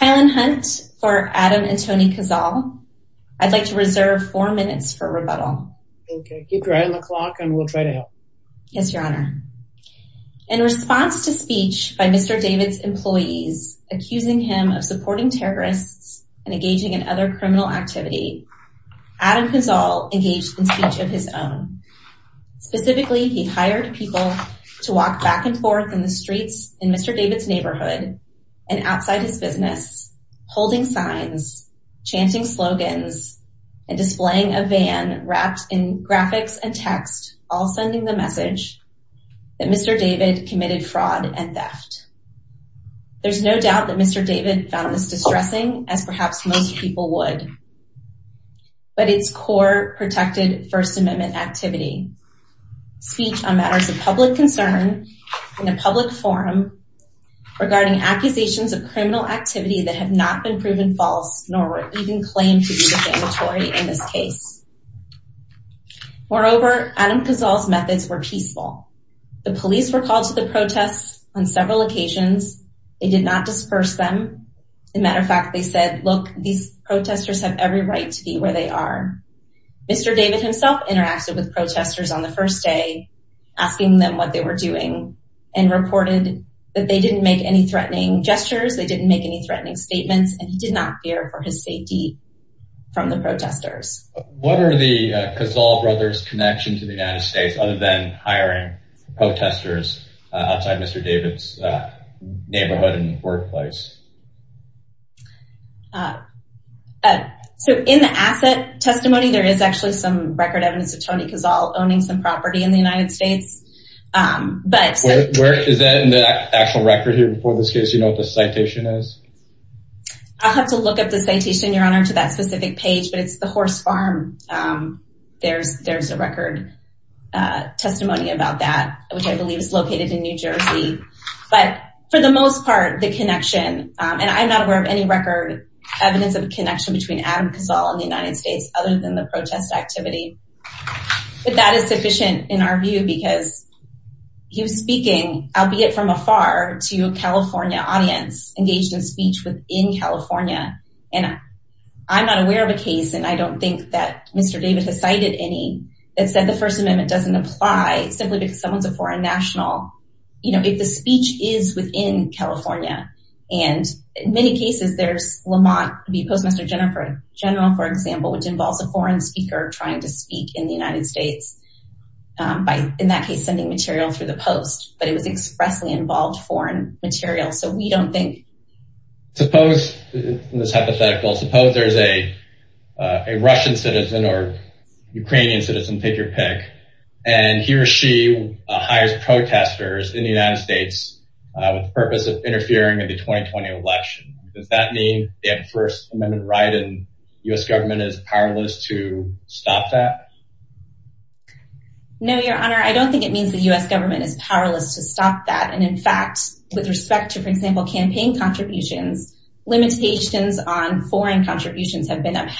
Hyland Hunt for Adam and Tony Kazal. I'd like to reserve four minutes for rebuttal. Keep your eye on the clock and we'll try to help. Yes, Your Honor. In response to speech by Mr. David's employees accusing him of supporting terrorists and engaging in other criminal activity, Adam Kazal engaged in speech of his own. Specifically, he hired people to walk back and forth in the business, holding signs, chanting slogans, and displaying a van wrapped in graphics and text, all sending the message that Mr. David committed fraud and theft. There's no doubt that Mr. David found this distressing, as perhaps most people would, but it's core protected First Amendment activity. Speech on matters of public forum regarding accusations of criminal activity that have not been proven false, nor were even claimed to be defamatory in this case. Moreover, Adam Kazal's methods were peaceful. The police were called to the protests on several occasions. They did not disperse them. As a matter of fact, they said, look, these protesters have every right to be where they are. Mr. David himself interacted with protesters on the first day, asking them what they were doing, and reported that they didn't make any threatening gestures. They didn't make any threatening statements, and he did not fear for his safety from the protesters. What are the Kazal brothers' connections to the United States, other than hiring So in the asset testimony, there is actually some record evidence of Tony Kazal owning some property in the United States. But where is that in the actual record here? Before this case, you know what the citation is? I'll have to look up the citation, Your Honor, to that specific page, but it's the horse farm. There's there's a record testimony about that, which I believe is a connection. And I'm not aware of any record evidence of a connection between Adam Kazal and the United States, other than the protest activity. But that is sufficient in our view, because he was speaking, albeit from afar, to a California audience engaged in speech within California. And I'm not aware of a case, and I don't think that Mr. David has cited any, that said the First Amendment doesn't apply simply because someone's a foreign national, you know, if the speech is within California. And in many cases, there's Lamont v. Postmaster General, for example, which involves a foreign speaker trying to speak in the United States by, in that case, sending material through the post. But it was expressly involved foreign material. So we don't think. Suppose, in this hypothetical, suppose there's a Russian citizen or Ukrainian citizen, pick your pick, and he or she hires protesters in the United States with the purpose of interfering in the 2020 election. Does that mean they have a First Amendment right and the U.S. government is powerless to stop that? No, Your Honor, I don't think it means the U.S. government is powerless to stop that. And in fact, with respect to, for example, campaign contributions, limitations on campaign contributions, limitations on campaign contributions, limitations on campaign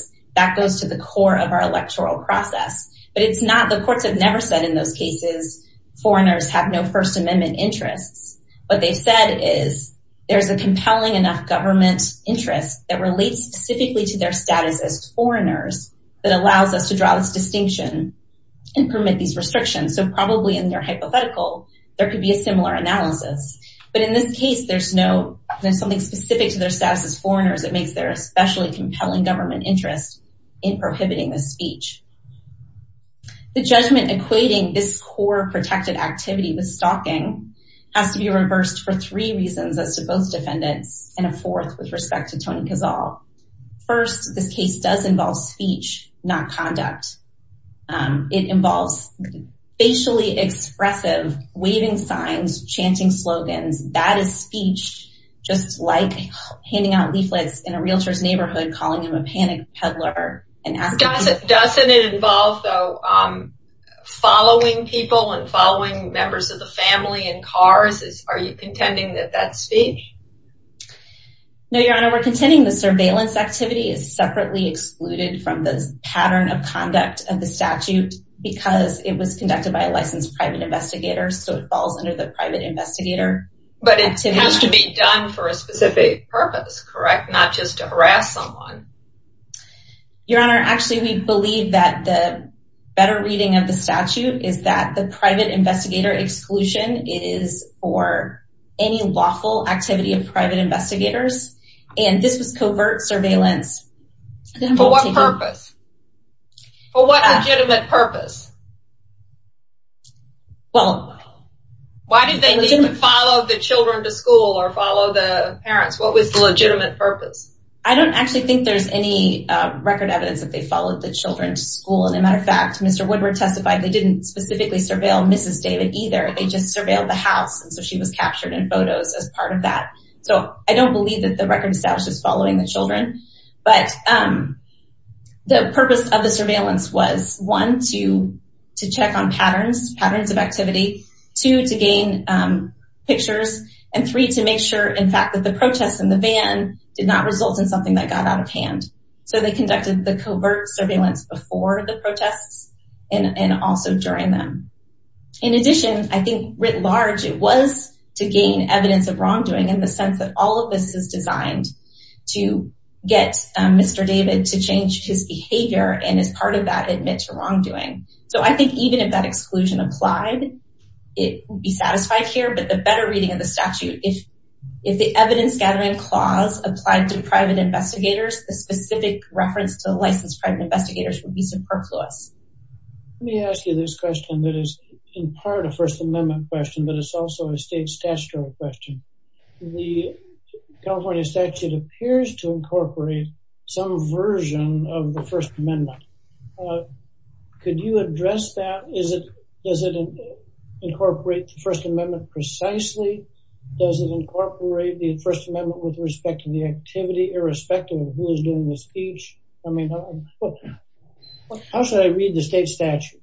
contributions to the core of our electoral process, but it's not, the courts have never said in those cases, foreigners have no First Amendment interests. What they've said is there's a compelling enough government interest that relates specifically to their status as foreigners that allows us to draw this distinction and permit these restrictions. So probably in their hypothetical, there could be a similar analysis. But in this case, there's no, there's something specific to their status as foreigners that makes their especially compelling government interest in prohibiting this speech. The judgment equating this core protected activity with stalking has to be reversed for three reasons as to both defendants and a fourth with respect to Tony Kazzal. First, this case does involve speech, not conduct. It involves facially expressive waving signs, chanting slogans. That is speech, just like handing out leaflets in a realtor's neighborhood, calling him a panic peddler and asking him to- Doesn't it involve, though, following people and following members of the family in cars? Are you contending that that's speech? No, Your Honor, we're contending the surveillance activity is separately excluded from the pattern of conduct of the statute because it was conducted by a licensed private investigator. So it falls under the private investigator. But it has to be done for a specific purpose, correct? Not just to harass someone. Your Honor, actually, we believe that the better reading of the statute is that the private investigator exclusion is for any lawful activity of private investigators. And this was covert surveillance. For what purpose? For what legitimate purpose? Well- Why did they follow the children to school or follow the parents? What was the legitimate purpose? I don't actually think there's any record evidence that they followed the children to school. And as a matter of fact, Mr. Woodward testified, they didn't specifically surveil Mrs. David either. They just surveilled the house. And so she was captured in photos as part of that. So I don't believe that the record establishes following the children. But the purpose of the surveillance was, one, to check on patterns, patterns of activity, two, to gain pictures, and three, to make sure, in fact, that the protests in the van did not result in something that got out of hand. So they conducted the covert surveillance before the protests and also during them. In addition, I think, writ large, it was to gain evidence of wrongdoing in the sense that all of this is designed to get Mr. David to change his behavior and as part of that admit to wrongdoing. So I think even if that exclusion applied, it would be satisfied here. But the better reading of the statute, if the evidence gathering clause applied to private investigators, the specific reference to the licensed private investigators would be superfluous. Let me ask you this question that is in part a First Amendment question, but it's also a state statutory question. The California statute appears to incorporate some version of the First Amendment. Could you address that? Does it incorporate the First Amendment precisely? Does it incorporate the First Amendment with respect to the activity irrespective of who is doing the speech? I mean, how should I read the state statute?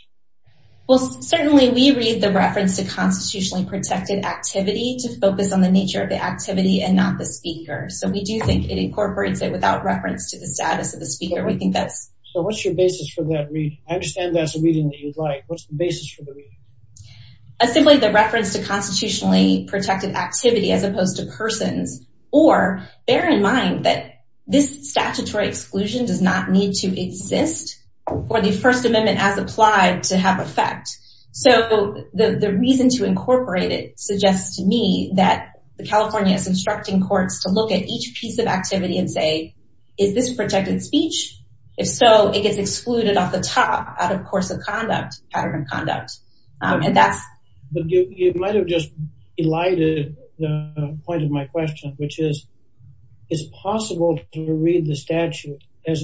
Well, certainly we read the reference to constitutionally protected activity to focus on the nature of the activity and not the speaker. So we do think it incorporates it without reference to the status of the speaker. We think that's. So what's your basis for that reading? I understand that's a reading that you'd like. What's the basis for the reading? Simply the reference to constitutionally protected activity as opposed to persons or bear in mind that this statutory exclusion does not need to exist for the First Amendment as applied to have effect. So the reason to incorporate it suggests to me that the California is instructing courts to look at each piece of activity and say, is this protected speech? If so, it gets excluded off the top out of course of conduct, pattern of conduct. And that's. But you might have just elided the point of my question, which is, is it possible to read the statute as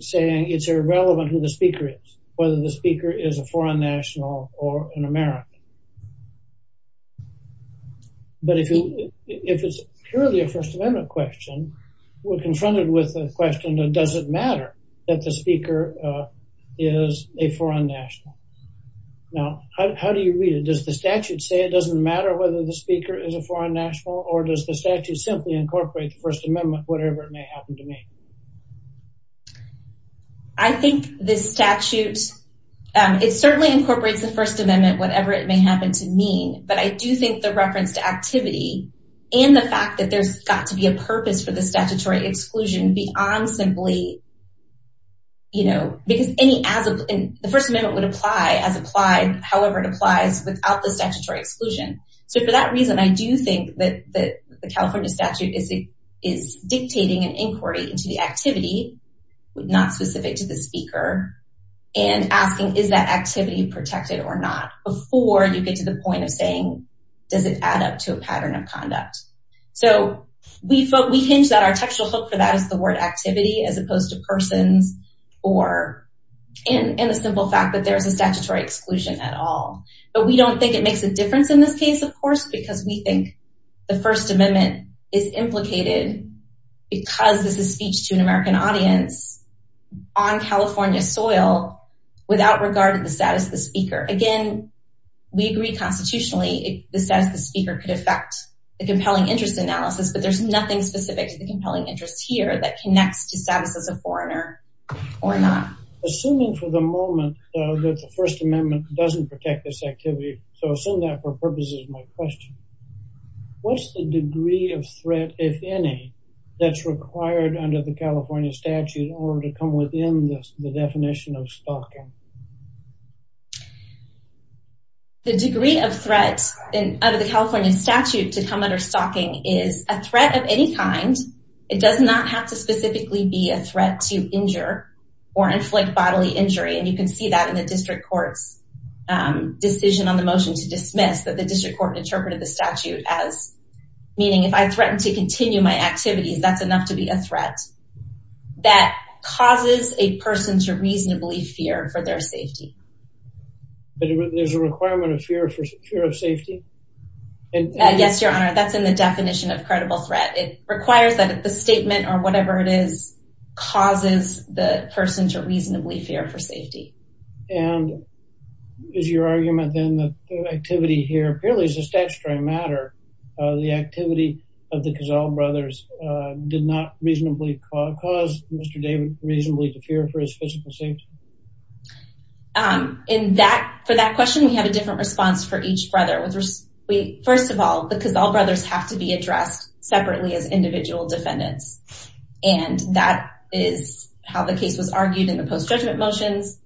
saying it's irrelevant who the speaker is, whether the speaker is a foreign national or an American? But if it's purely a First Amendment question, we're confronted with the question, does it matter that the speaker is a foreign national? Now, how do you read it? Does the statute say it doesn't matter whether the speaker is a foreign national or does the statute simply incorporate the First Amendment, whatever it may happen to me? I think this statute, it certainly incorporates the First Amendment, whatever it may happen to mean. But I do think the reference to activity and the fact that there's got to be a purpose for the statutory exclusion beyond simply. You know, because any as the First Amendment would apply as applied, however, it applies without the statutory exclusion. So for that reason, I do think that the California statute is dictating an inquiry into the activity, not specific to the speaker. And asking, is that activity protected or not before you get to the point of saying, does it add up to a pattern of conduct? So we thought we hinged that our textual hook for that is the word activity as opposed to persons or in the simple fact that there is a statutory exclusion at all. But we don't think it makes a difference in this case, of course, because we think the First Amendment is implicated because this is speech to an American audience on California soil without regard to the status of the speaker. Again, we agree constitutionally the status of the speaker could affect the compelling interest analysis, but there's nothing specific to the compelling interest here that connects to status as a foreigner or not. Assuming for the moment that the First Amendment doesn't protect this activity, so assume that for purposes of my question, what's the degree of threat, if any, that's required under the California statute or to come within the definition of stalking? The degree of threat under the California statute to come under stalking is a threat of any kind. It does not have to specifically be a threat to injure or inflict bodily injury, and you can see that in the district court's decision on the motion to dismiss that the district court interpreted the statute as meaning if I threaten to continue my activities, that's enough to be a threat that causes a person to reasonably fear for their safety. But there's a requirement of fear of safety? Yes, Your Honor, that's in the definition of credible threat. It requires that the statement or whatever it is causes the person to reasonably fear for safety. And is your argument then that the activity here, apparently it's a statutory matter, the activity of the Cazal brothers did not reasonably cause Mr. David reasonably to fear for his physical safety? For that question, we have a different response for each brother. First of all, the Cazal brothers have to be addressed separately as individual defendants, and that is how the case was argued in the post-judgment motions,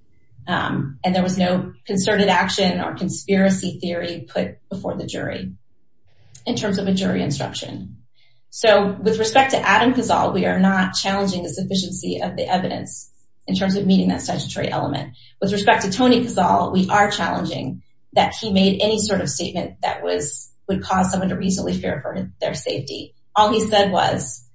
and there was no concerted action or conspiracy theory put before the jury in terms of a jury instruction. So, with respect to Adam Cazal, we are not challenging the sufficiency of the evidence in terms of meeting that statutory element. With respect to Tony Cazal, we are challenging that he made any sort of statement that would cause someone to reasonably fear for their safety. All he said was,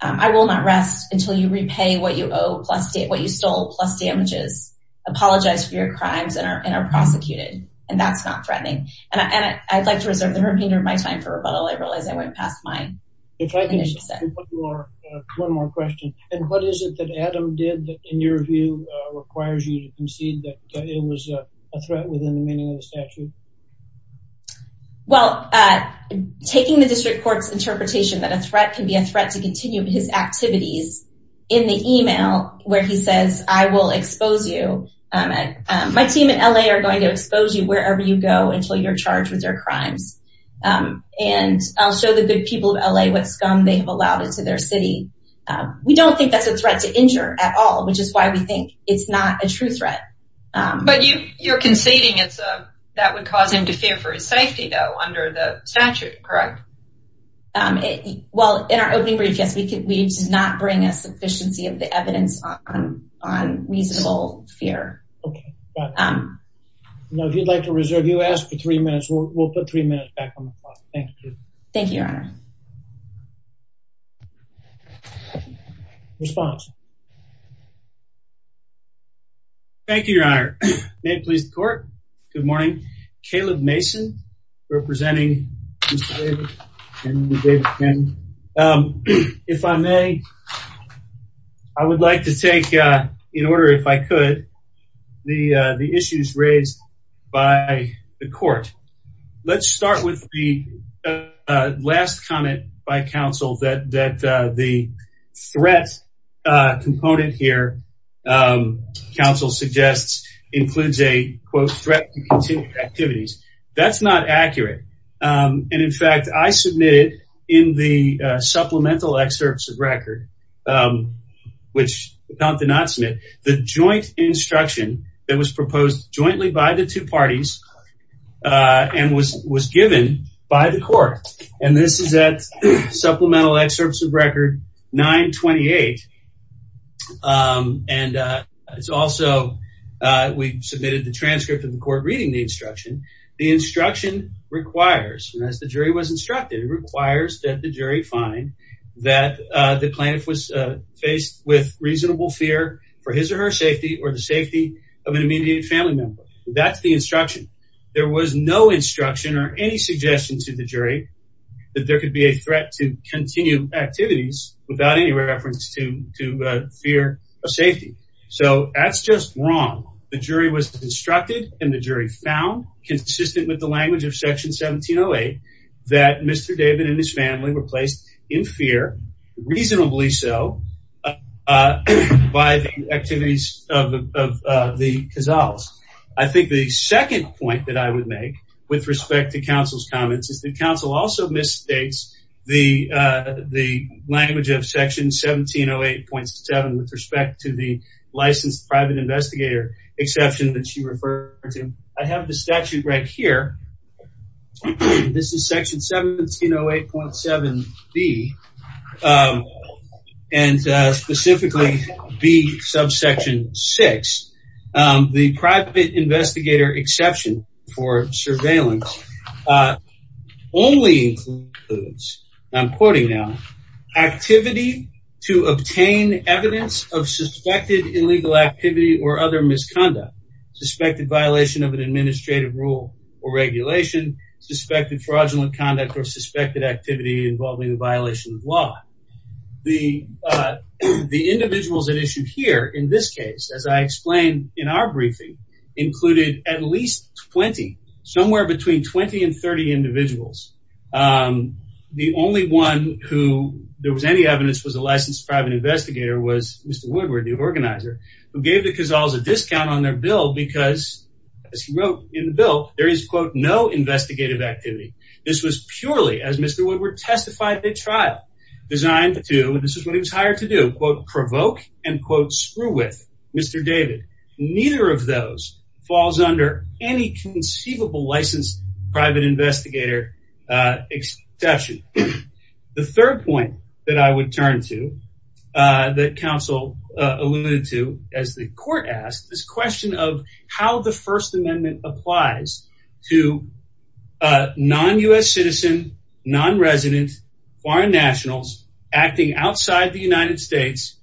I will not rest until you repay what you owe, what you stole, plus damages, apologize for your crimes, and are prosecuted, and that's not threatening. And I'd like to reserve the remainder of my time for rebuttal. I realize I went past my initial set. One more question. And what is it that Adam did that, in your view, requires you to concede that it was a threat within the meaning of the statute? Well, taking the district court's interpretation that a threat can be a threat to continue his activities in the email where he says, I will expose you, my team in L.A. are going to expose you wherever you go until you're charged with their crimes. And I'll show the good people of L.A. what scum they have allowed into their city. We don't think that's a threat to injure at all, which is why we think it's not a true threat. But you're conceding that would cause him to fear for his safety, though, under the statute, correct? Well, in our opening brief, yes, we did not bring a sufficiency of the evidence on reasonable fear. Okay, got it. Now, if you'd like to reserve, you asked for three minutes. We'll put three minutes back on the clock. Thank you. Thank you, Your Honor. Response. Thank you, Your Honor. May it please the court. Good morning. Caleb Mason, representing Mr. David and the David family. If I may, I would like to take, in order if I could, the issues raised by the court. Let's start with the last comment by counsel that the threat component here, counsel suggests, includes a, quote, threat to continued activities. That's not accurate. And in fact, I submitted in the supplemental excerpts of record, which the count did not submit, the joint instruction that was proposed jointly by the two parties and was given by the court. And this is that supplemental excerpts of record 928. And it's also we submitted the transcript of the court reading the instruction. The instruction requires, as the jury was instructed, it requires that the jury find that the plaintiff was faced with reasonable fear for his or her safety or the safety of an immediate family member. That's the instruction. There was no instruction or any suggestion to the jury that there could be a threat to continue activities without any reference to fear of safety. So that's just wrong. The jury was instructed and the jury found, consistent with the language of section 1708, that Mr. David and his family were placed in fear, reasonably so, by the activities of the Cazales. I think the second point that I would make, with respect to counsel's comments, is that counsel also misstates the language of section 1708.7 with respect to the licensed private investigator exception that you refer to. I have the statute right here. This is section 1708.7B and specifically B subsection 6. The private investigator exception for surveillance only includes, I'm quoting now, activity to obtain evidence of suspected illegal activity or other misconduct, suspected violation of an administrative rule or regulation, suspected fraudulent conduct or suspected activity involving a violation of law. The individuals at issue here, in this case, as I explained in our briefing, included at least 20, somewhere between 20 and 30 individuals. The only one who there was any evidence was a licensed private investigator was Mr. Woodward, the organizer, who gave the Cazales a discount on their bill because, as he wrote in the bill, there is, quote, no investigative activity. This was purely, as Mr. Woodward testified, a trial designed to, and this is what he was hired to do, quote, provoke and, quote, screw with Mr. David. Neither of those falls under any conceivable licensed private investigator exception. The third point that I would turn to that counsel alluded to, as the court asked, this question of how the First Amendment applies to non-U.S. citizen, non-resident, foreign nationals acting outside the United States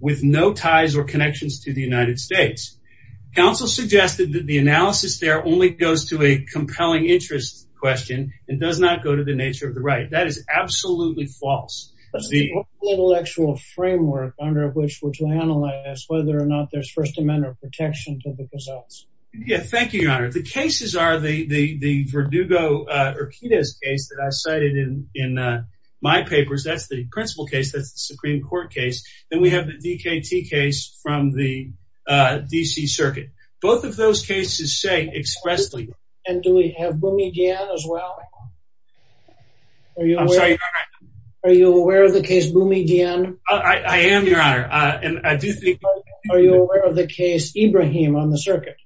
with no ties or connections to the United States. Counsel suggested that the analysis there only goes to a compelling interest question and does not go to the nature of the right. That is absolutely false. The intellectual framework under which we're to analyze whether or not there's First Amendment protection to the Cazales. Yeah, thank you, Your Honor. The cases are the Verdugo-Urquidez case that I cited in my papers. That's the principal case. That's the Supreme Court case. Then we have the D.K.T. case from the D.C. Circuit. Both of those cases say expressly. And do we have Boumy Dien as well? I'm sorry, Your Honor. Are you aware of the case Boumy Dien? I am, Your Honor, and I do think... Are you aware of the case Ibrahim on the circuit?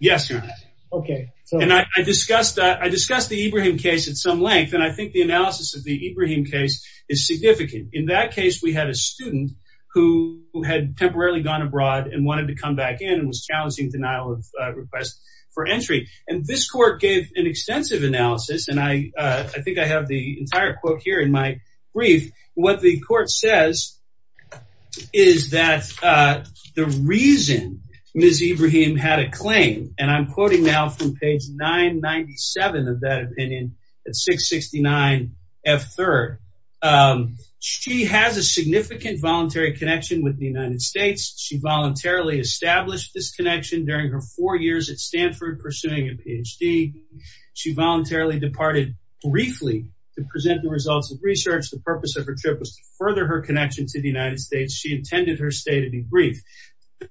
Yes, Your Honor. Okay. And I discussed the Ibrahim case at some length, and I think the analysis of the Ibrahim case is significant. In that case, we had a student who had temporarily gone abroad and wanted to come back in and was challenging denial of request for entry. And this court gave an extensive analysis, and I think I have the entire quote here in my brief. What the court says is that the reason Ms. Ibrahim had a claim, and I'm quoting now from page 997 of that opinion at 669F3rd, she has a significant voluntary connection with the United States. She voluntarily established this connection during her four years at Stanford pursuing a Ph.D. She voluntarily departed briefly to present the results of research. The purpose of her trip was to further her connection to the United States. She intended her stay to be brief.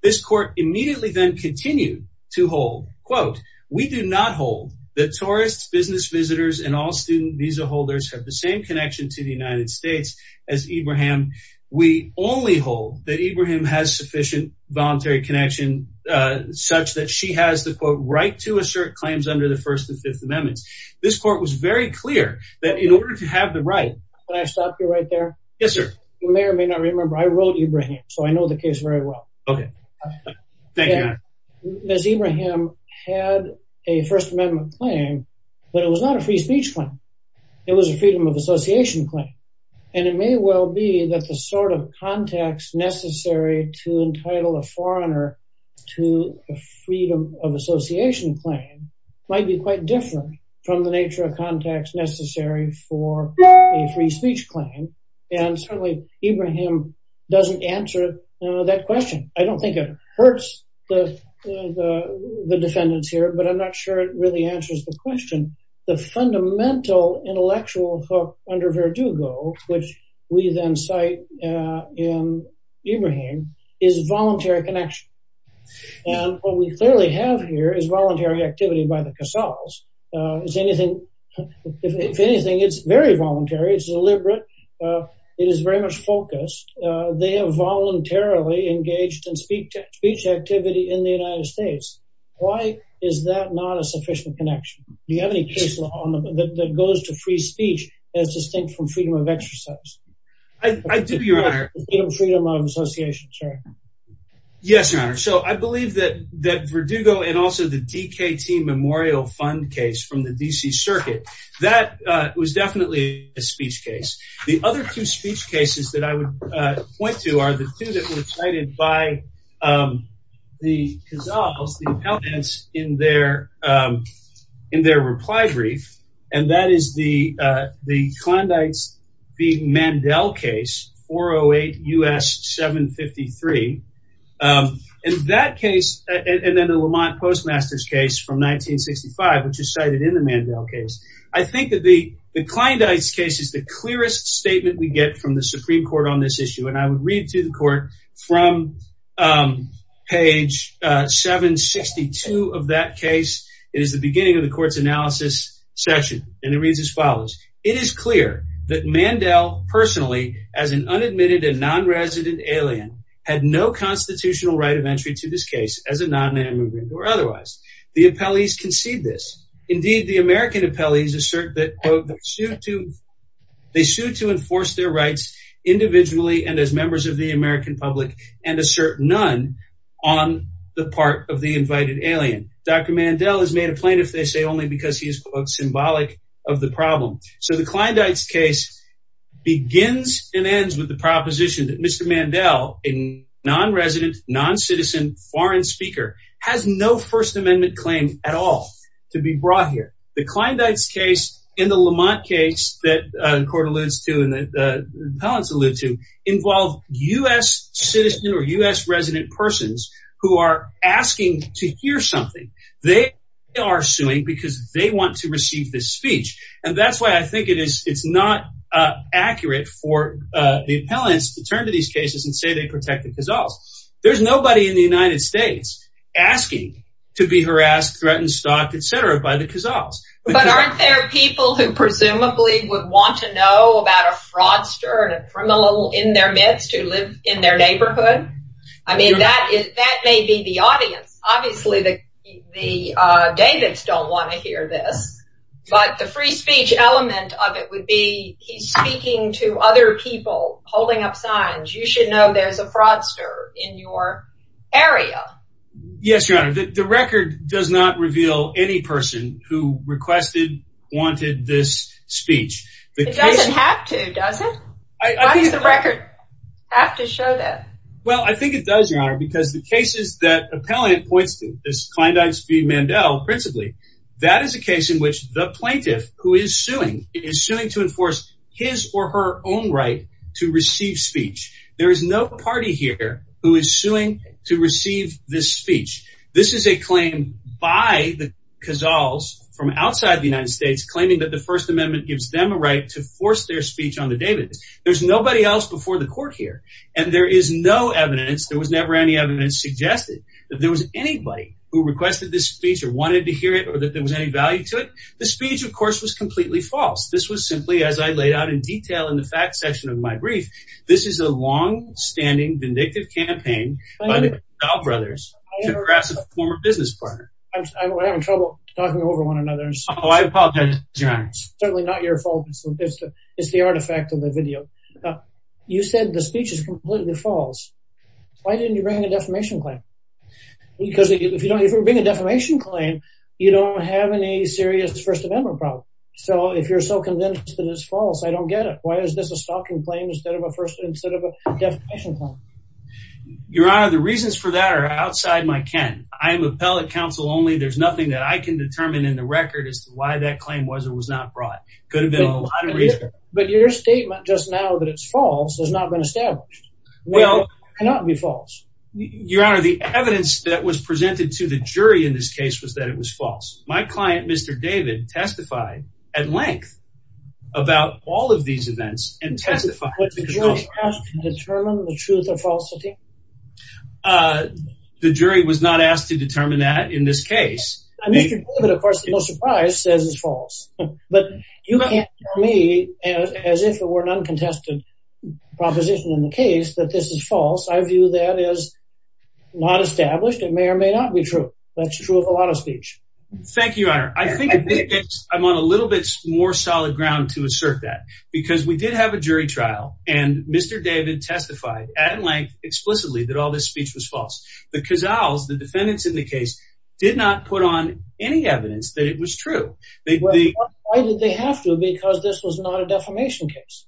This court immediately then continued to hold, quote, we do not hold that tourists, business visitors, and all student visa holders have the same connection to the United States as Ibrahim. We only hold that Ibrahim has sufficient voluntary connection such that she has the, quote, right to assert claims under the First and Fifth Amendments. This court was very clear that in order to have the right— Can I stop you right there? Yes, sir. You may or may not remember, I wrote Ibrahim, so I know the case very well. Okay. Thank you. Ms. Ibrahim had a First Amendment claim, but it was not a free speech claim. It was a freedom of association claim. And it may well be that the sort of context necessary to entitle a foreigner to a freedom of association claim might be quite different from the nature of context necessary for a free speech claim. And certainly, Ibrahim doesn't answer that question. I don't think it hurts the defendants here, but I'm not sure it really answers the question. The fundamental intellectual hook under Verdugo, which we then cite in Ibrahim, is voluntary connection. And what we clearly have here is voluntary activity by the Casals. If anything, it's very voluntary. It's deliberate. It is very much focused. They have voluntarily engaged in speech activity in the United States. Why is that not a sufficient connection? Do you have any case that goes to free speech that's distinct from freedom of exercise? I do, Your Honor. Freedom of association, sorry. Yes, Your Honor. So I believe that Verdugo and also the DKT Memorial Fund case from the D.C. Circuit, that was definitely a speech case. The other two speech cases that I would point to are the two that were cited by the Casals, the appellants, in their reply brief. And that is the Klondike v. Mandel case, 408 U.S. 753. And that case and then the Lamont Postmaster's case from 1965, which is cited in the Mandel case. I think that the Klondike case is the clearest statement we get from the Supreme Court on this issue. And I would read to the court from page 762 of that case. It is the beginning of the court's analysis section. And it reads as follows. It is clear that Mandel personally, as an unadmitted and nonresident alien, had no constitutional right of entry to this case as a non-immigrant or otherwise. The appellees concede this. Indeed, the American appellees assert that, quote, they sued to enforce their rights individually and as members of the American public and assert none on the part of the invited alien. Dr. Mandel is made a plaintiff, they say, only because he is, quote, symbolic of the problem. So the Klondike case begins and ends with the proposition that Mr. Mandel, a nonresident, noncitizen foreign speaker, has no First Amendment claim at all to be brought here. The Klondike case and the Lamont case that the court alludes to and the appellants allude to involve U.S. citizen or U.S. resident persons who are asking to hear something. They are suing because they want to receive this speech. And that's why I think it is it's not accurate for the appellants to turn to these cases and say they protect the Cazals. There's nobody in the United States asking to be harassed, threatened, stalked, etc. by the Cazals. But aren't there people who presumably would want to know about a fraudster and a criminal in their midst who live in their neighborhood? I mean, that is that may be the audience. Obviously, the Davids don't want to hear this. But the free speech element of it would be he's speaking to other people holding up signs. You should know there's a fraudster in your area. Yes, your honor. The record does not reveal any person who requested wanted this speech. It doesn't have to, does it? Why does the record have to show that? Well, I think it does, your honor, because the cases that appellant points to this Kleindienst v. Mandel principally, that is a case in which the plaintiff who is suing is suing to enforce his or her own right to receive speech. There is no party here who is suing to receive this speech. This is a claim by the Cazals from outside the United States claiming that the First Amendment gives them a right to force their speech on the Davids. There's nobody else before the court here. And there is no evidence. There was never any evidence suggested that there was anybody who requested this speech or wanted to hear it or that there was any value to it. The speech, of course, was completely false. This was simply, as I laid out in detail in the fact section of my brief, this is a long-standing vindictive campaign by the Stahl brothers to harass a former business partner. We're having trouble talking over one another. Oh, I apologize, your honor. It's certainly not your fault. It's the artifact of the video. You said the speech is completely false. Why didn't you bring a defamation claim? Because if you bring a defamation claim, you don't have any serious First Amendment problem. So if you're so convinced that it's false, I don't get it. Why is this a stalking claim instead of a defamation claim? Your honor, the reasons for that are outside my ken. I am appellate counsel only. There's nothing that I can determine in the record as to why that claim was or was not brought. It could have been a lot of reasons. But your statement just now that it's false has not been established. It cannot be false. Your honor, the evidence that was presented to the jury in this case was that it was false. My client, Mr. David, testified at length about all of these events and testified. Was the jury asked to determine the truth or falsity? The jury was not asked to determine that in this case. Mr. David, of course, to no surprise, says it's false. But you can't tell me as if it were an uncontested proposition in the case that this is false. I view that as not established. It may or may not be true. That's true of a lot of speech. Thank you, your honor. I think I'm on a little bit more solid ground to assert that because we did have a jury trial. And Mr. David testified at length explicitly that all this speech was false. The Cazals, the defendants in the case, did not put on any evidence that it was true. Why did they have to? Because this was not a defamation case.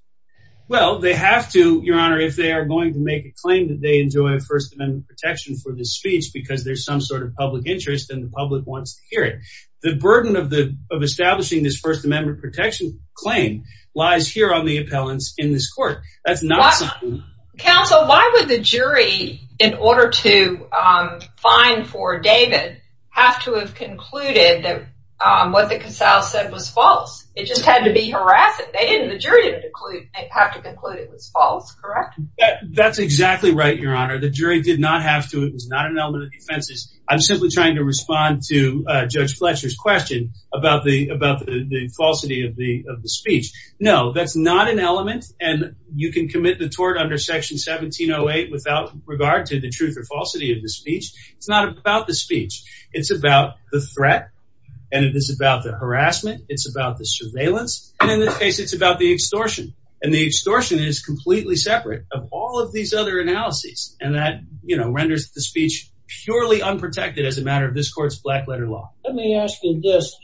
Well, they have to, your honor, if they are going to make a claim that they enjoy First Amendment protection for this speech because there's some sort of public interest and the public wants to hear it. The burden of establishing this First Amendment protection claim lies here on the appellants in this court. Counsel, why would the jury, in order to find for David, have to have concluded that what the Cazals said was false? It just had to be harassing. The jury didn't have to conclude it was false, correct? That's exactly right, your honor. The jury did not have to. It was not an element of defense. I'm simply trying to respond to Judge Fletcher's question about the falsity of the speech. No, that's not an element. And you can commit the tort under Section 1708 without regard to the truth or falsity of the speech. It's not about the speech. It's about the threat and it is about the harassment. It's about the surveillance. And in this case, it's about the extortion. And the extortion is completely separate of all of these other analyses. And that, you know, renders the speech purely unprotected as a matter of this court's black letter law. Let me ask you this.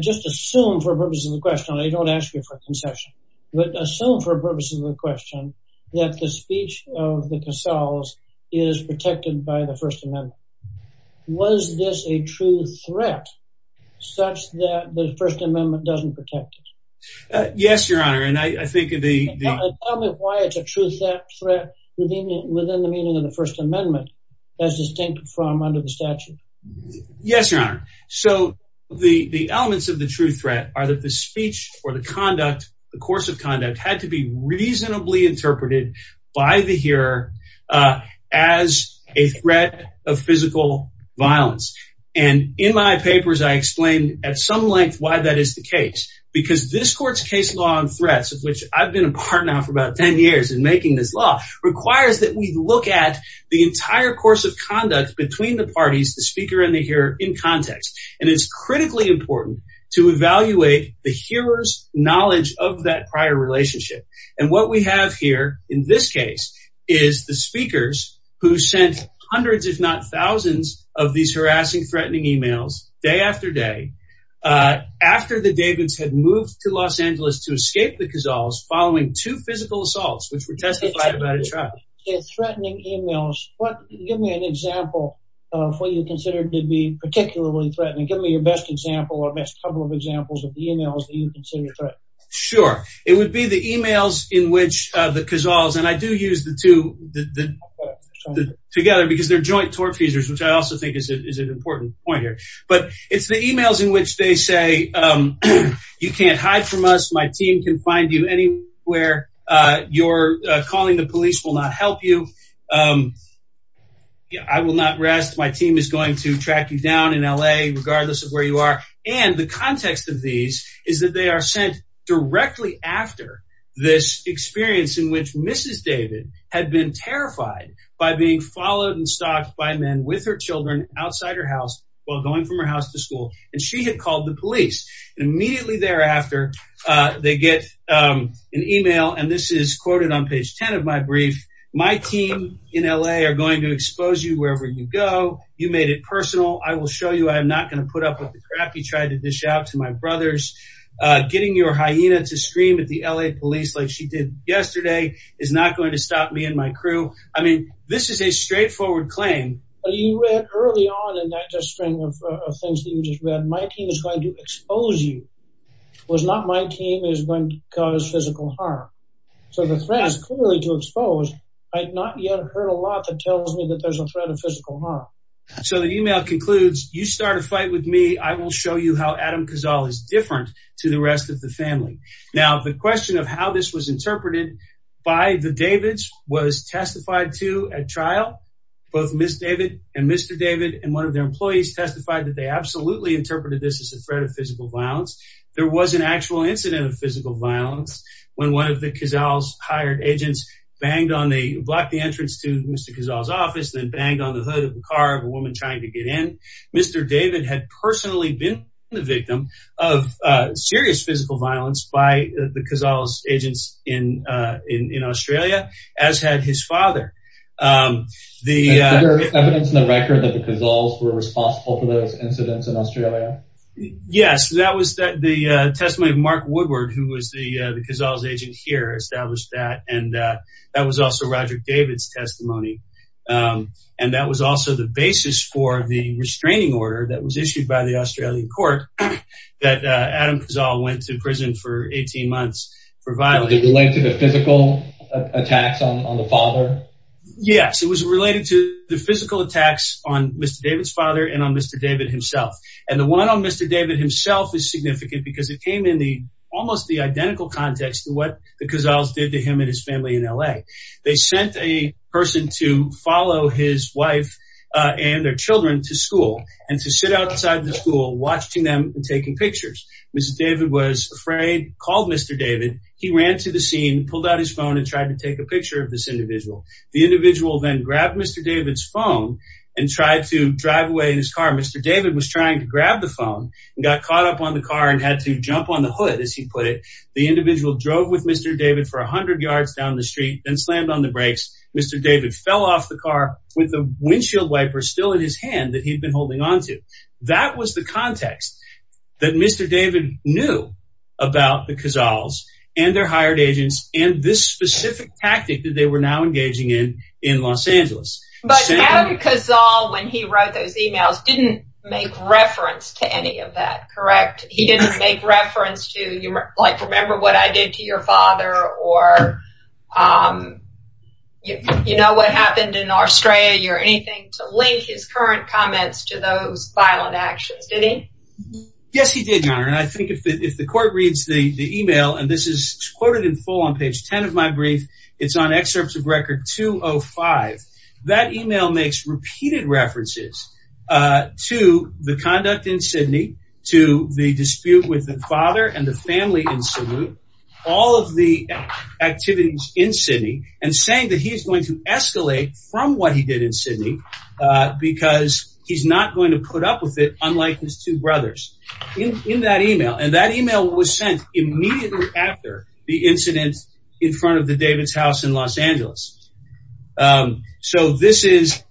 Just assume for the purpose of the question. I don't ask you for concession. But assume for the purpose of the question that the speech of the Cazals is protected by the First Amendment. Was this a true threat such that the First Amendment doesn't protect it? Yes, your honor. Tell me why it's a true threat within the meaning of the First Amendment as distinct from under the statute. Yes, your honor. So the elements of the true threat are that the speech or the conduct, the course of conduct had to be reasonably interpreted by the hearer as a threat of physical violence. And in my papers, I explained at some length why that is the case. Because this court's case law on threats, of which I've been a partner for about 10 years in making this law, requires that we look at the entire course of conduct between the parties, the speaker and the hearer, in context. And it's critically important to evaluate the hearer's knowledge of that prior relationship. And what we have here in this case is the speakers who sent hundreds, if not thousands, of these harassing, threatening emails day after day after the Davids had moved to Los Angeles to escape the Cazals following two physical assaults, which were testified about at trial. Threatening emails. Give me an example of what you consider to be particularly threatening. Give me your best example or best couple of examples of the emails that you consider threatening. Sure. It would be the emails in which the Cazals, and I do use the two together because they're joint tortfeasors, which I also think is an important point here. But it's the emails in which they say, you can't hide from us. My team can find you anywhere. Your calling the police will not help you. I will not rest. My team is going to track you down in L.A., regardless of where you are. And the context of these is that they are sent directly after this experience in which Mrs. David had been terrified by being followed and stalked by men with her children outside her house while going from her house to school. And she had called the police. And immediately thereafter, they get an email. And this is quoted on page 10 of my brief. My team in L.A. are going to expose you wherever you go. You made it personal. I will show you I'm not going to put up with the crap you tried to dish out to my brothers. Getting your hyena to scream at the L.A. police like she did yesterday is not going to stop me and my crew. I mean, this is a straightforward claim. But you read early on in that string of things that you just read. My team is going to expose you. It was not my team is going to cause physical harm. So the threat is clearly to expose. I had not yet heard a lot that tells me that there's a threat of physical harm. So the email concludes, you start a fight with me. I will show you how Adam Kazal is different to the rest of the family. Now, the question of how this was interpreted by the Davids was testified to at trial. Both Miss David and Mr. David and one of their employees testified that they absolutely interpreted this as a threat of physical violence. There was an actual incident of physical violence when one of the Kazal's hired agents banged on the block, the entrance to Mr. Kazal's office, then banged on the hood of the car of a woman trying to get in. Mr. David had personally been the victim of serious physical violence by the Kazal's agents in Australia, as had his father. The evidence in the record that the Kazal's were responsible for those incidents in Australia. Yes, that was the testimony of Mark Woodward, who was the Kazal's agent here, established that. And that was also Roger David's testimony. And that was also the basis for the restraining order that was issued by the Australian court that Adam Kazal went to prison for 18 months for violence. Was it related to the physical attacks on the father? Yes, it was related to the physical attacks on Mr. David's father and on Mr. David himself. And the one on Mr. David himself is significant because it came in the almost the identical context to what the Kazal's did to him and his family in L.A. They sent a person to follow his wife and their children to school and to sit outside the school, watching them and taking pictures. Mr. David was afraid, called Mr. David. He ran to the scene, pulled out his phone and tried to take a picture of this individual. The individual then grabbed Mr. David's phone and tried to drive away in his car. Mr. David was trying to grab the phone and got caught up on the car and had to jump on the hood, as he put it. The individual drove with Mr. David for 100 yards down the street and slammed on the brakes. Mr. David fell off the car with a windshield wiper still in his hand that he'd been holding on to. That was the context that Mr. David knew about the Kazal's and their hired agents and this specific tactic that they were now engaging in in Los Angeles. But Adam Kazal, when he wrote those emails, didn't make reference to any of that, correct? He didn't make reference to, like, remember what I did to your father or you know what happened in Australia or anything to link his current comments to those violent actions, did he? Yes, he did, Your Honor. And I think if the court reads the email and this is quoted in full on page 10 of my brief, it's on excerpts of record 205. That email makes repeated references to the conduct in Sydney, to the dispute with the father and the family in Sydney, all of the activities in Sydney and saying that he is going to escalate from what he did in Sydney because he's not going to put up with it, unlike his two brothers. In that email and that email was sent immediately after the incident in front of the David's house in Los Angeles. So this is,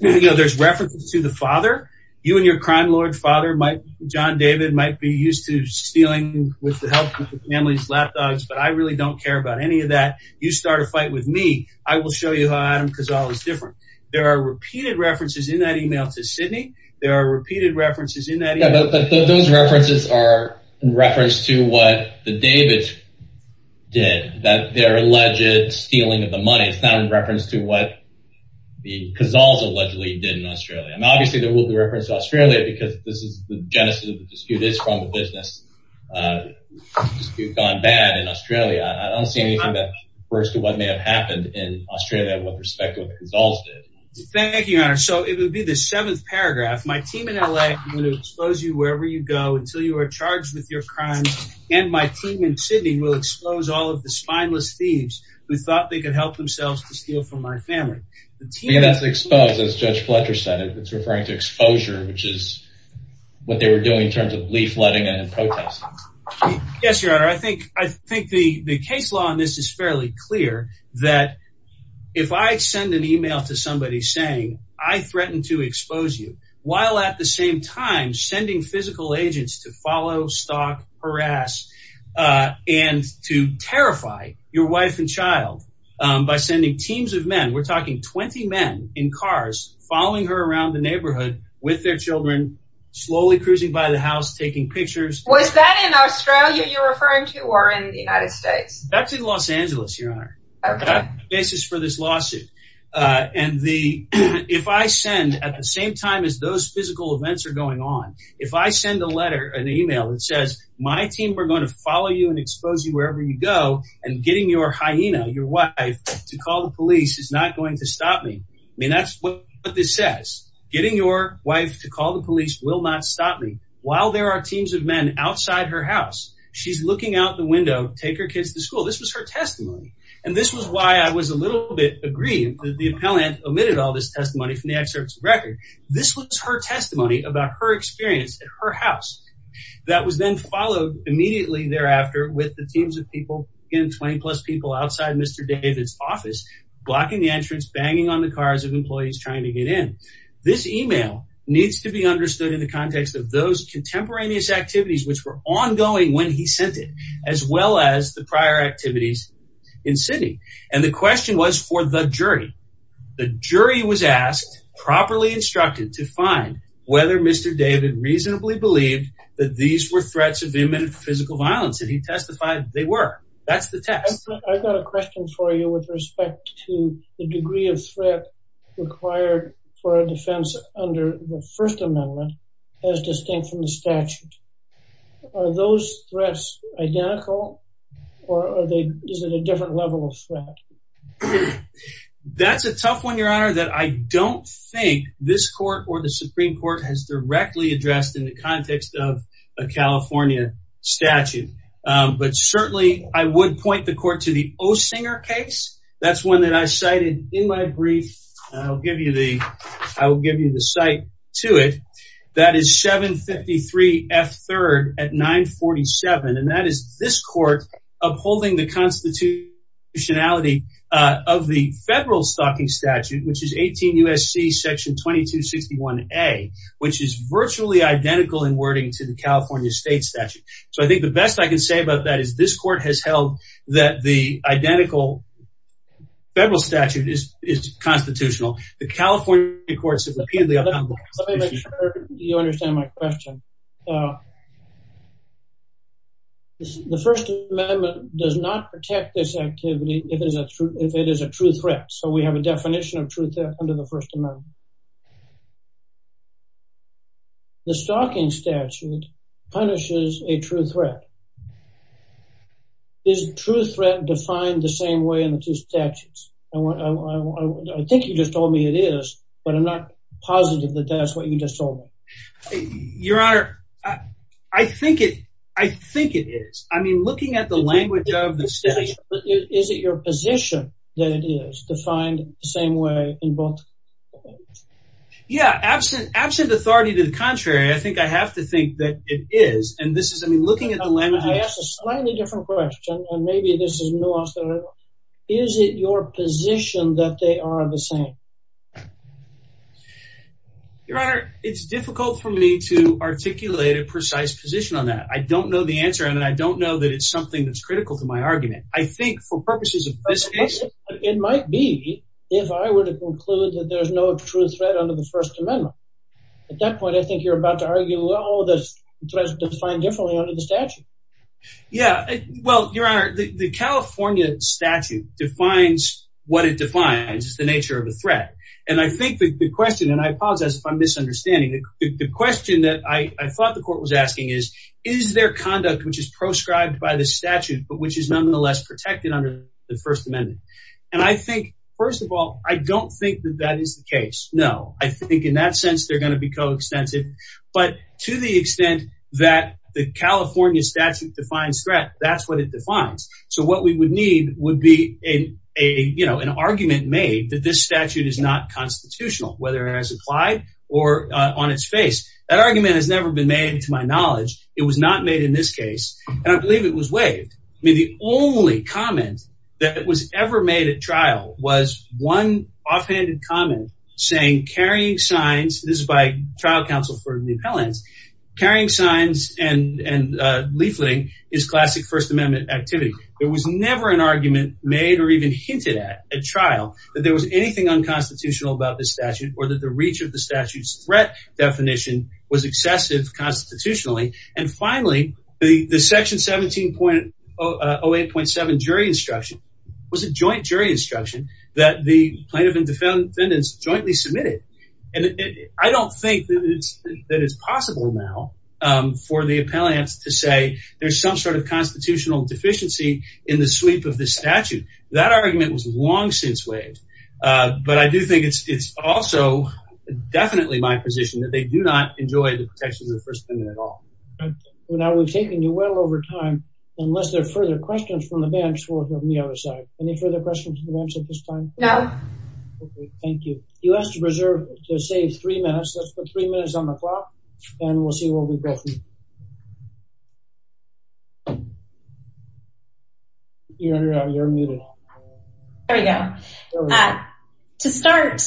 you know, there's reference to the father. You and your crime lord father, John David, might be used to stealing with the help of family's lapdogs. But I really don't care about any of that. You start a fight with me. I will show you how Adam Kazal is different. There are repeated references in that email to Sydney. There are repeated references in that email. But those references are in reference to what the David's did, that they're alleged stealing of the money. It's not in reference to what the Kazals allegedly did in Australia. And obviously, there will be reference to Australia because this is the genesis of the dispute. It's from the business gone bad in Australia. I don't see anything that refers to what may have happened in Australia with respect to what the Kazals did. Thank you, Your Honor. So it would be the seventh paragraph. My team in LA, I'm going to expose you wherever you go until you are charged with your crimes. And my team in Sydney will expose all of the spineless thieves who thought they could help themselves to steal from my family. Yeah, that's exposed, as Judge Fletcher said. It's referring to exposure, which is what they were doing in terms of leafletting and protesting. Yes, Your Honor. I think the case law on this is fairly clear that if I send an email to somebody saying I threatened to expose you, while at the same time sending physical agents to follow, stalk, harass and to terrify your wife and child by sending teams of men. We're talking 20 men in cars following her around the neighborhood with their children, slowly cruising by the house, taking pictures. Was that in Australia you're referring to or in the United States? That's in Los Angeles, Your Honor. Okay. That's the basis for this lawsuit. And if I send, at the same time as those physical events are going on, if I send a letter, an email that says, my team, we're going to follow you and expose you wherever you go. And getting your hyena, your wife, to call the police is not going to stop me. I mean, that's what this says. Getting your wife to call the police will not stop me. While there are teams of men outside her house, she's looking out the window, take her kids to school. This was her testimony. And this was why I was a little bit aggrieved that the appellant omitted all this testimony from the excerpts of the record. This was her testimony about her experience at her house. That was then followed immediately thereafter with the teams of people, again, 20 plus people outside Mr. David's office, blocking the entrance, banging on the cars of employees trying to get in. This email needs to be understood in the context of those contemporaneous activities which were ongoing when he sent it, as well as the prior activities in Sydney. And the question was for the jury. The jury was asked, properly instructed, to find whether Mr. David reasonably believed that these were threats of imminent physical violence. And he testified they were. That's the test. I've got a question for you with respect to the degree of threat required for a defense under the First Amendment, as distinct from the statute. Are those threats identical or is it a different level of threat? That's a tough one, Your Honor, that I don't think this court or the Supreme Court has directly addressed in the context of a California statute. But certainly I would point the court to the O'Singer case. That's one that I cited in my brief. I'll give you the I will give you the site to it. That is 753 F third at 947. And that is this court upholding the constitutionality of the federal stocking statute, which is 18 U.S.C. section 2261 A, which is virtually identical in wording to the California state statute. So I think the best I can say about that is this court has held that the identical federal statute is constitutional. The California courts have repeatedly. Let me make sure you understand my question. The First Amendment does not protect this activity if it is a true threat. So we have a definition of truth under the First Amendment. The stocking statute punishes a true threat. Is true threat defined the same way in the two statutes? I think you just told me it is, but I'm not positive that that's what you just told me. Your Honor, I think it I think it is. I mean, looking at the language of the state, is it your position that it is defined the same way in both? Yeah, absent absent authority to the contrary. I think I have to think that it is. And this is I mean, looking at the language, I ask a slightly different question. And maybe this is nuanced. Is it your position that they are the same? Your Honor, it's difficult for me to articulate a precise position on that. I don't know the answer. And I don't know that it's something that's critical to my argument. I think for purposes of this case, it might be if I were to conclude that there's no true threat under the First Amendment. At that point, I think you're about to argue all this defined differently under the statute. Yeah. Well, Your Honor, the California statute defines what it defines is the nature of the threat. And I think the question and I apologize if I'm misunderstanding. The question that I thought the court was asking is, is there conduct which is proscribed by the statute, but which is nonetheless protected under the First Amendment? And I think, first of all, I don't think that that is the case. No, I think in that sense, they're going to be coextensive. But to the extent that the California statute defines threat, that's what it defines. So what we would need would be an argument made that this statute is not constitutional, whether it has applied or on its face. That argument has never been made to my knowledge. It was not made in this case. And I believe it was waived. I mean, the only comment that was ever made at trial was one offhanded comment saying carrying signs. This is by trial counsel for the appellants. Carrying signs and leafleting is classic First Amendment activity. There was never an argument made or even hinted at at trial that there was anything unconstitutional about this statute or that the reach of the statute's threat definition was excessive constitutionally. And finally, the section 17.08.7 jury instruction was a joint jury instruction that the plaintiff and defendants jointly submitted. And I don't think that it's possible now for the appellants to say there's some sort of constitutional deficiency in the sweep of the statute. That argument was long since waived. But I do think it's also definitely my position that they do not enjoy the protections of the First Amendment at all. Now, we've taken you well over time, unless there are further questions from the bench or from the other side. Any further questions from the bench at this time? No. Thank you. You asked to reserve, to save three minutes. Let's put three minutes on the clock, and we'll see what we both need. You're muted. There we go. To start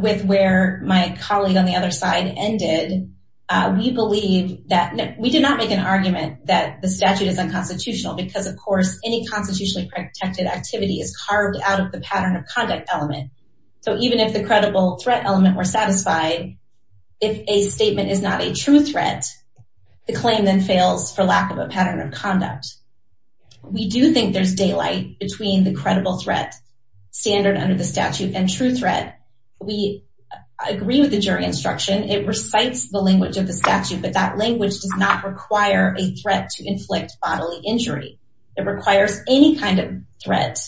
with where my colleague on the other side ended, we believe that we did not make an argument that the statute is unconstitutional because, of course, any constitutionally protected activity is carved out of the pattern of conduct element. So even if the credible threat element were satisfied, if a statement is not a true threat, the claim then fails for lack of a pattern of conduct. We do think there's daylight between the credible threat standard under the statute and true threat. We agree with the jury instruction. It recites the language of the statute, but that language does not require a threat to inflict bodily injury. It requires any kind of threat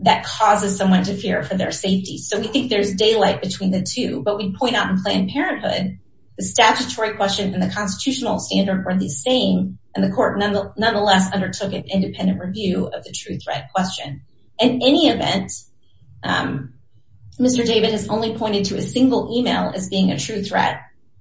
that causes someone to fear for their safety. So we think there's daylight between the two. But we point out in Planned Parenthood the statutory question and the constitutional standard were the same, and the court nonetheless undertook an independent review of the true threat question. In any event, Mr. David has only pointed to a single email as being a true threat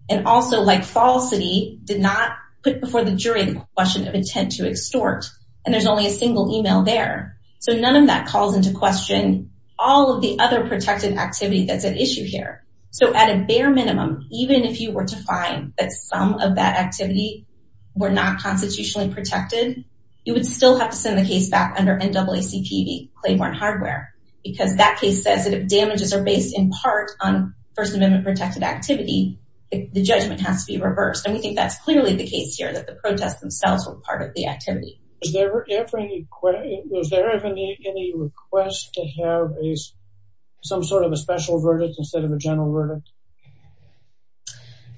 and also, like falsity, did not put before the jury the question of intent to extort, and there's only a single email there. So none of that calls into question all of the other protected activity that's at issue here. So at a bare minimum, even if you were to find that some of that activity were not constitutionally protected, you would still have to send the case back under NAACP Claiborne Hardware, because that case says that if damages are based in part on First Amendment protected activity, the judgment has to be reversed. And we think that's clearly the case here, that the protests themselves were part of the activity. Was there ever any request to have some sort of a special verdict instead of a general verdict?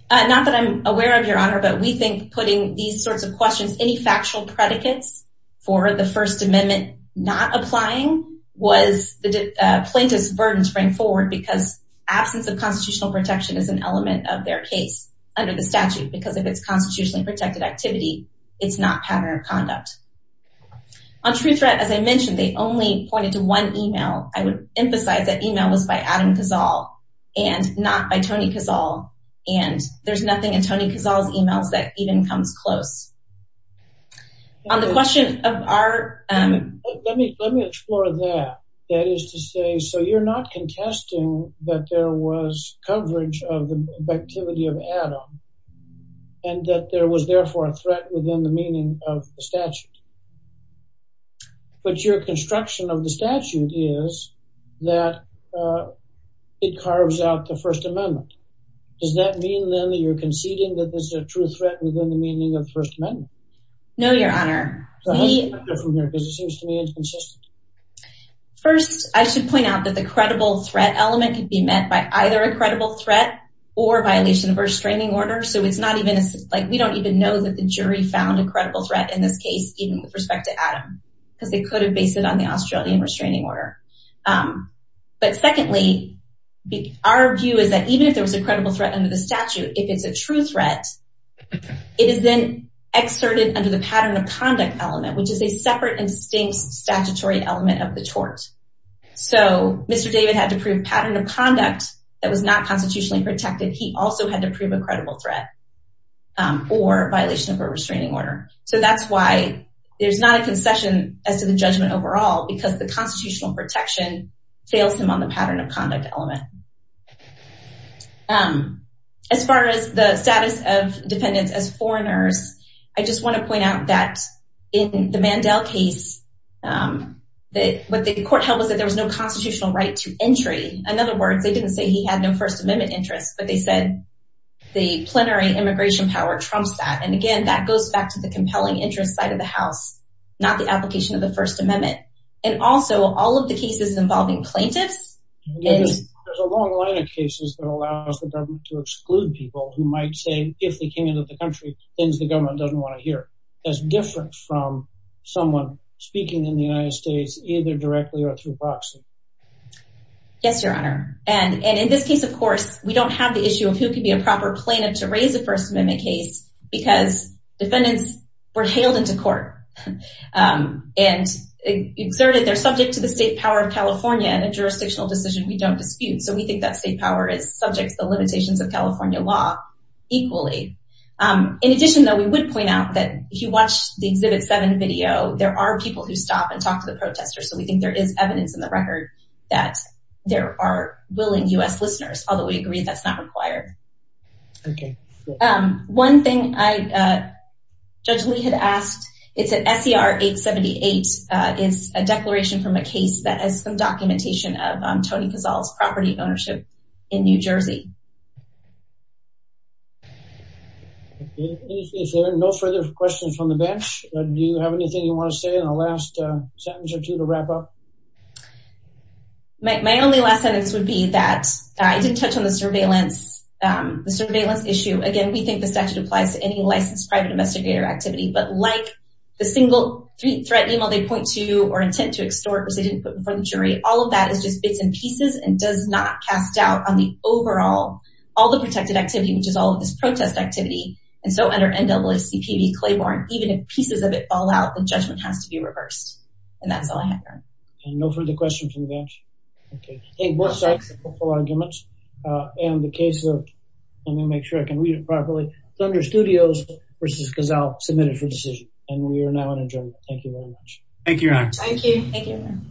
Not that I'm aware of, Your Honor, but we think putting these sorts of questions, any factual predicates for the First Amendment not applying was the plaintiff's burden to bring forward because absence of constitutional protection is an element of their case under the statute, because if it's constitutionally protected activity, it's not pattern of conduct. On true threat, as I mentioned, they only pointed to one email. I would emphasize that email was by Adam Cazal and not by Tony Cazal, and there's nothing in Tony Cazal's emails that even comes close. Let me explore that. That is to say, so you're not contesting that there was coverage of the activity of Adam and that there was therefore a threat within the meaning of the statute. But your construction of the statute is that it carves out the First Amendment. Does that mean, then, that you're conceding that there's a true threat within the meaning of the First Amendment? No, Your Honor. How does that differ from here? Because it seems to me inconsistent. First, I should point out that the credible threat element could be met by either a credible threat or violation of restraining order. So it's not even like we don't even know that the jury found a credible threat in this case, even with respect to Adam, because they could have based it on the Australian restraining order. But secondly, our view is that even if there was a credible threat under the statute, if it's a true threat, it is then exerted under the pattern of conduct element, which is a separate and distinct statutory element of the tort. So Mr. David had to prove pattern of conduct that was not constitutionally protected. He also had to prove a credible threat or violation of a restraining order. So that's why there's not a concession as to the judgment overall, because the constitutional protection fails him on the pattern of conduct element. As far as the status of defendants as foreigners, I just want to point out that in the Mandel case, what the court held was that there was no constitutional right to entry. In other words, they didn't say he had no First Amendment interests, but they said the plenary immigration power trumps that. And again, that goes back to the compelling interest side of the House, not the application of the First Amendment. And also all of the cases involving plaintiffs. There's a long line of cases that allows the government to exclude people who might say, if they came into the country, things the government doesn't want to hear. That's different from someone speaking in the United States, either directly or through boxing. Yes, Your Honor. And in this case, of course, we don't have the issue of who can be a proper plaintiff to raise a First Amendment case because defendants were hailed into court. And exerted their subject to the state power of California in a jurisdictional decision we don't dispute. So we think that state power is subject to the limitations of California law equally. In addition, though, we would point out that if you watch the Exhibit 7 video, there are people who stop and talk to the protesters. So we think there is evidence in the record that there are willing U.S. listeners, although we agree that's not required. Okay. One thing Judge Lee had asked, it's an S.E.R. 878. It's a declaration from a case that has some documentation of Tony Cazal's property ownership in New Jersey. If there are no further questions from the bench, do you have anything you want to say in the last sentence or two to wrap up? My only last sentence would be that I didn't touch on the surveillance issue. Again, we think the statute applies to any licensed private investigator activity. But like the single threat email they point to or intent to extort, which they didn't put before the jury, all of that is just bits and pieces and does not cast doubt on the overall, all the protected activity, which is all of this protest activity. And so under NAACP v. Claiborne, even if pieces of it fall out, the judgment has to be reversed. And that's all I have time for. And no further questions from the bench? Okay. Both sides have hopeful arguments. And the case of, let me make sure I can read it properly, Thunder Studios v. Cazal, submitted for decision. And we are now adjourned. Thank you very much. Thank you, Your Honor. Thank you.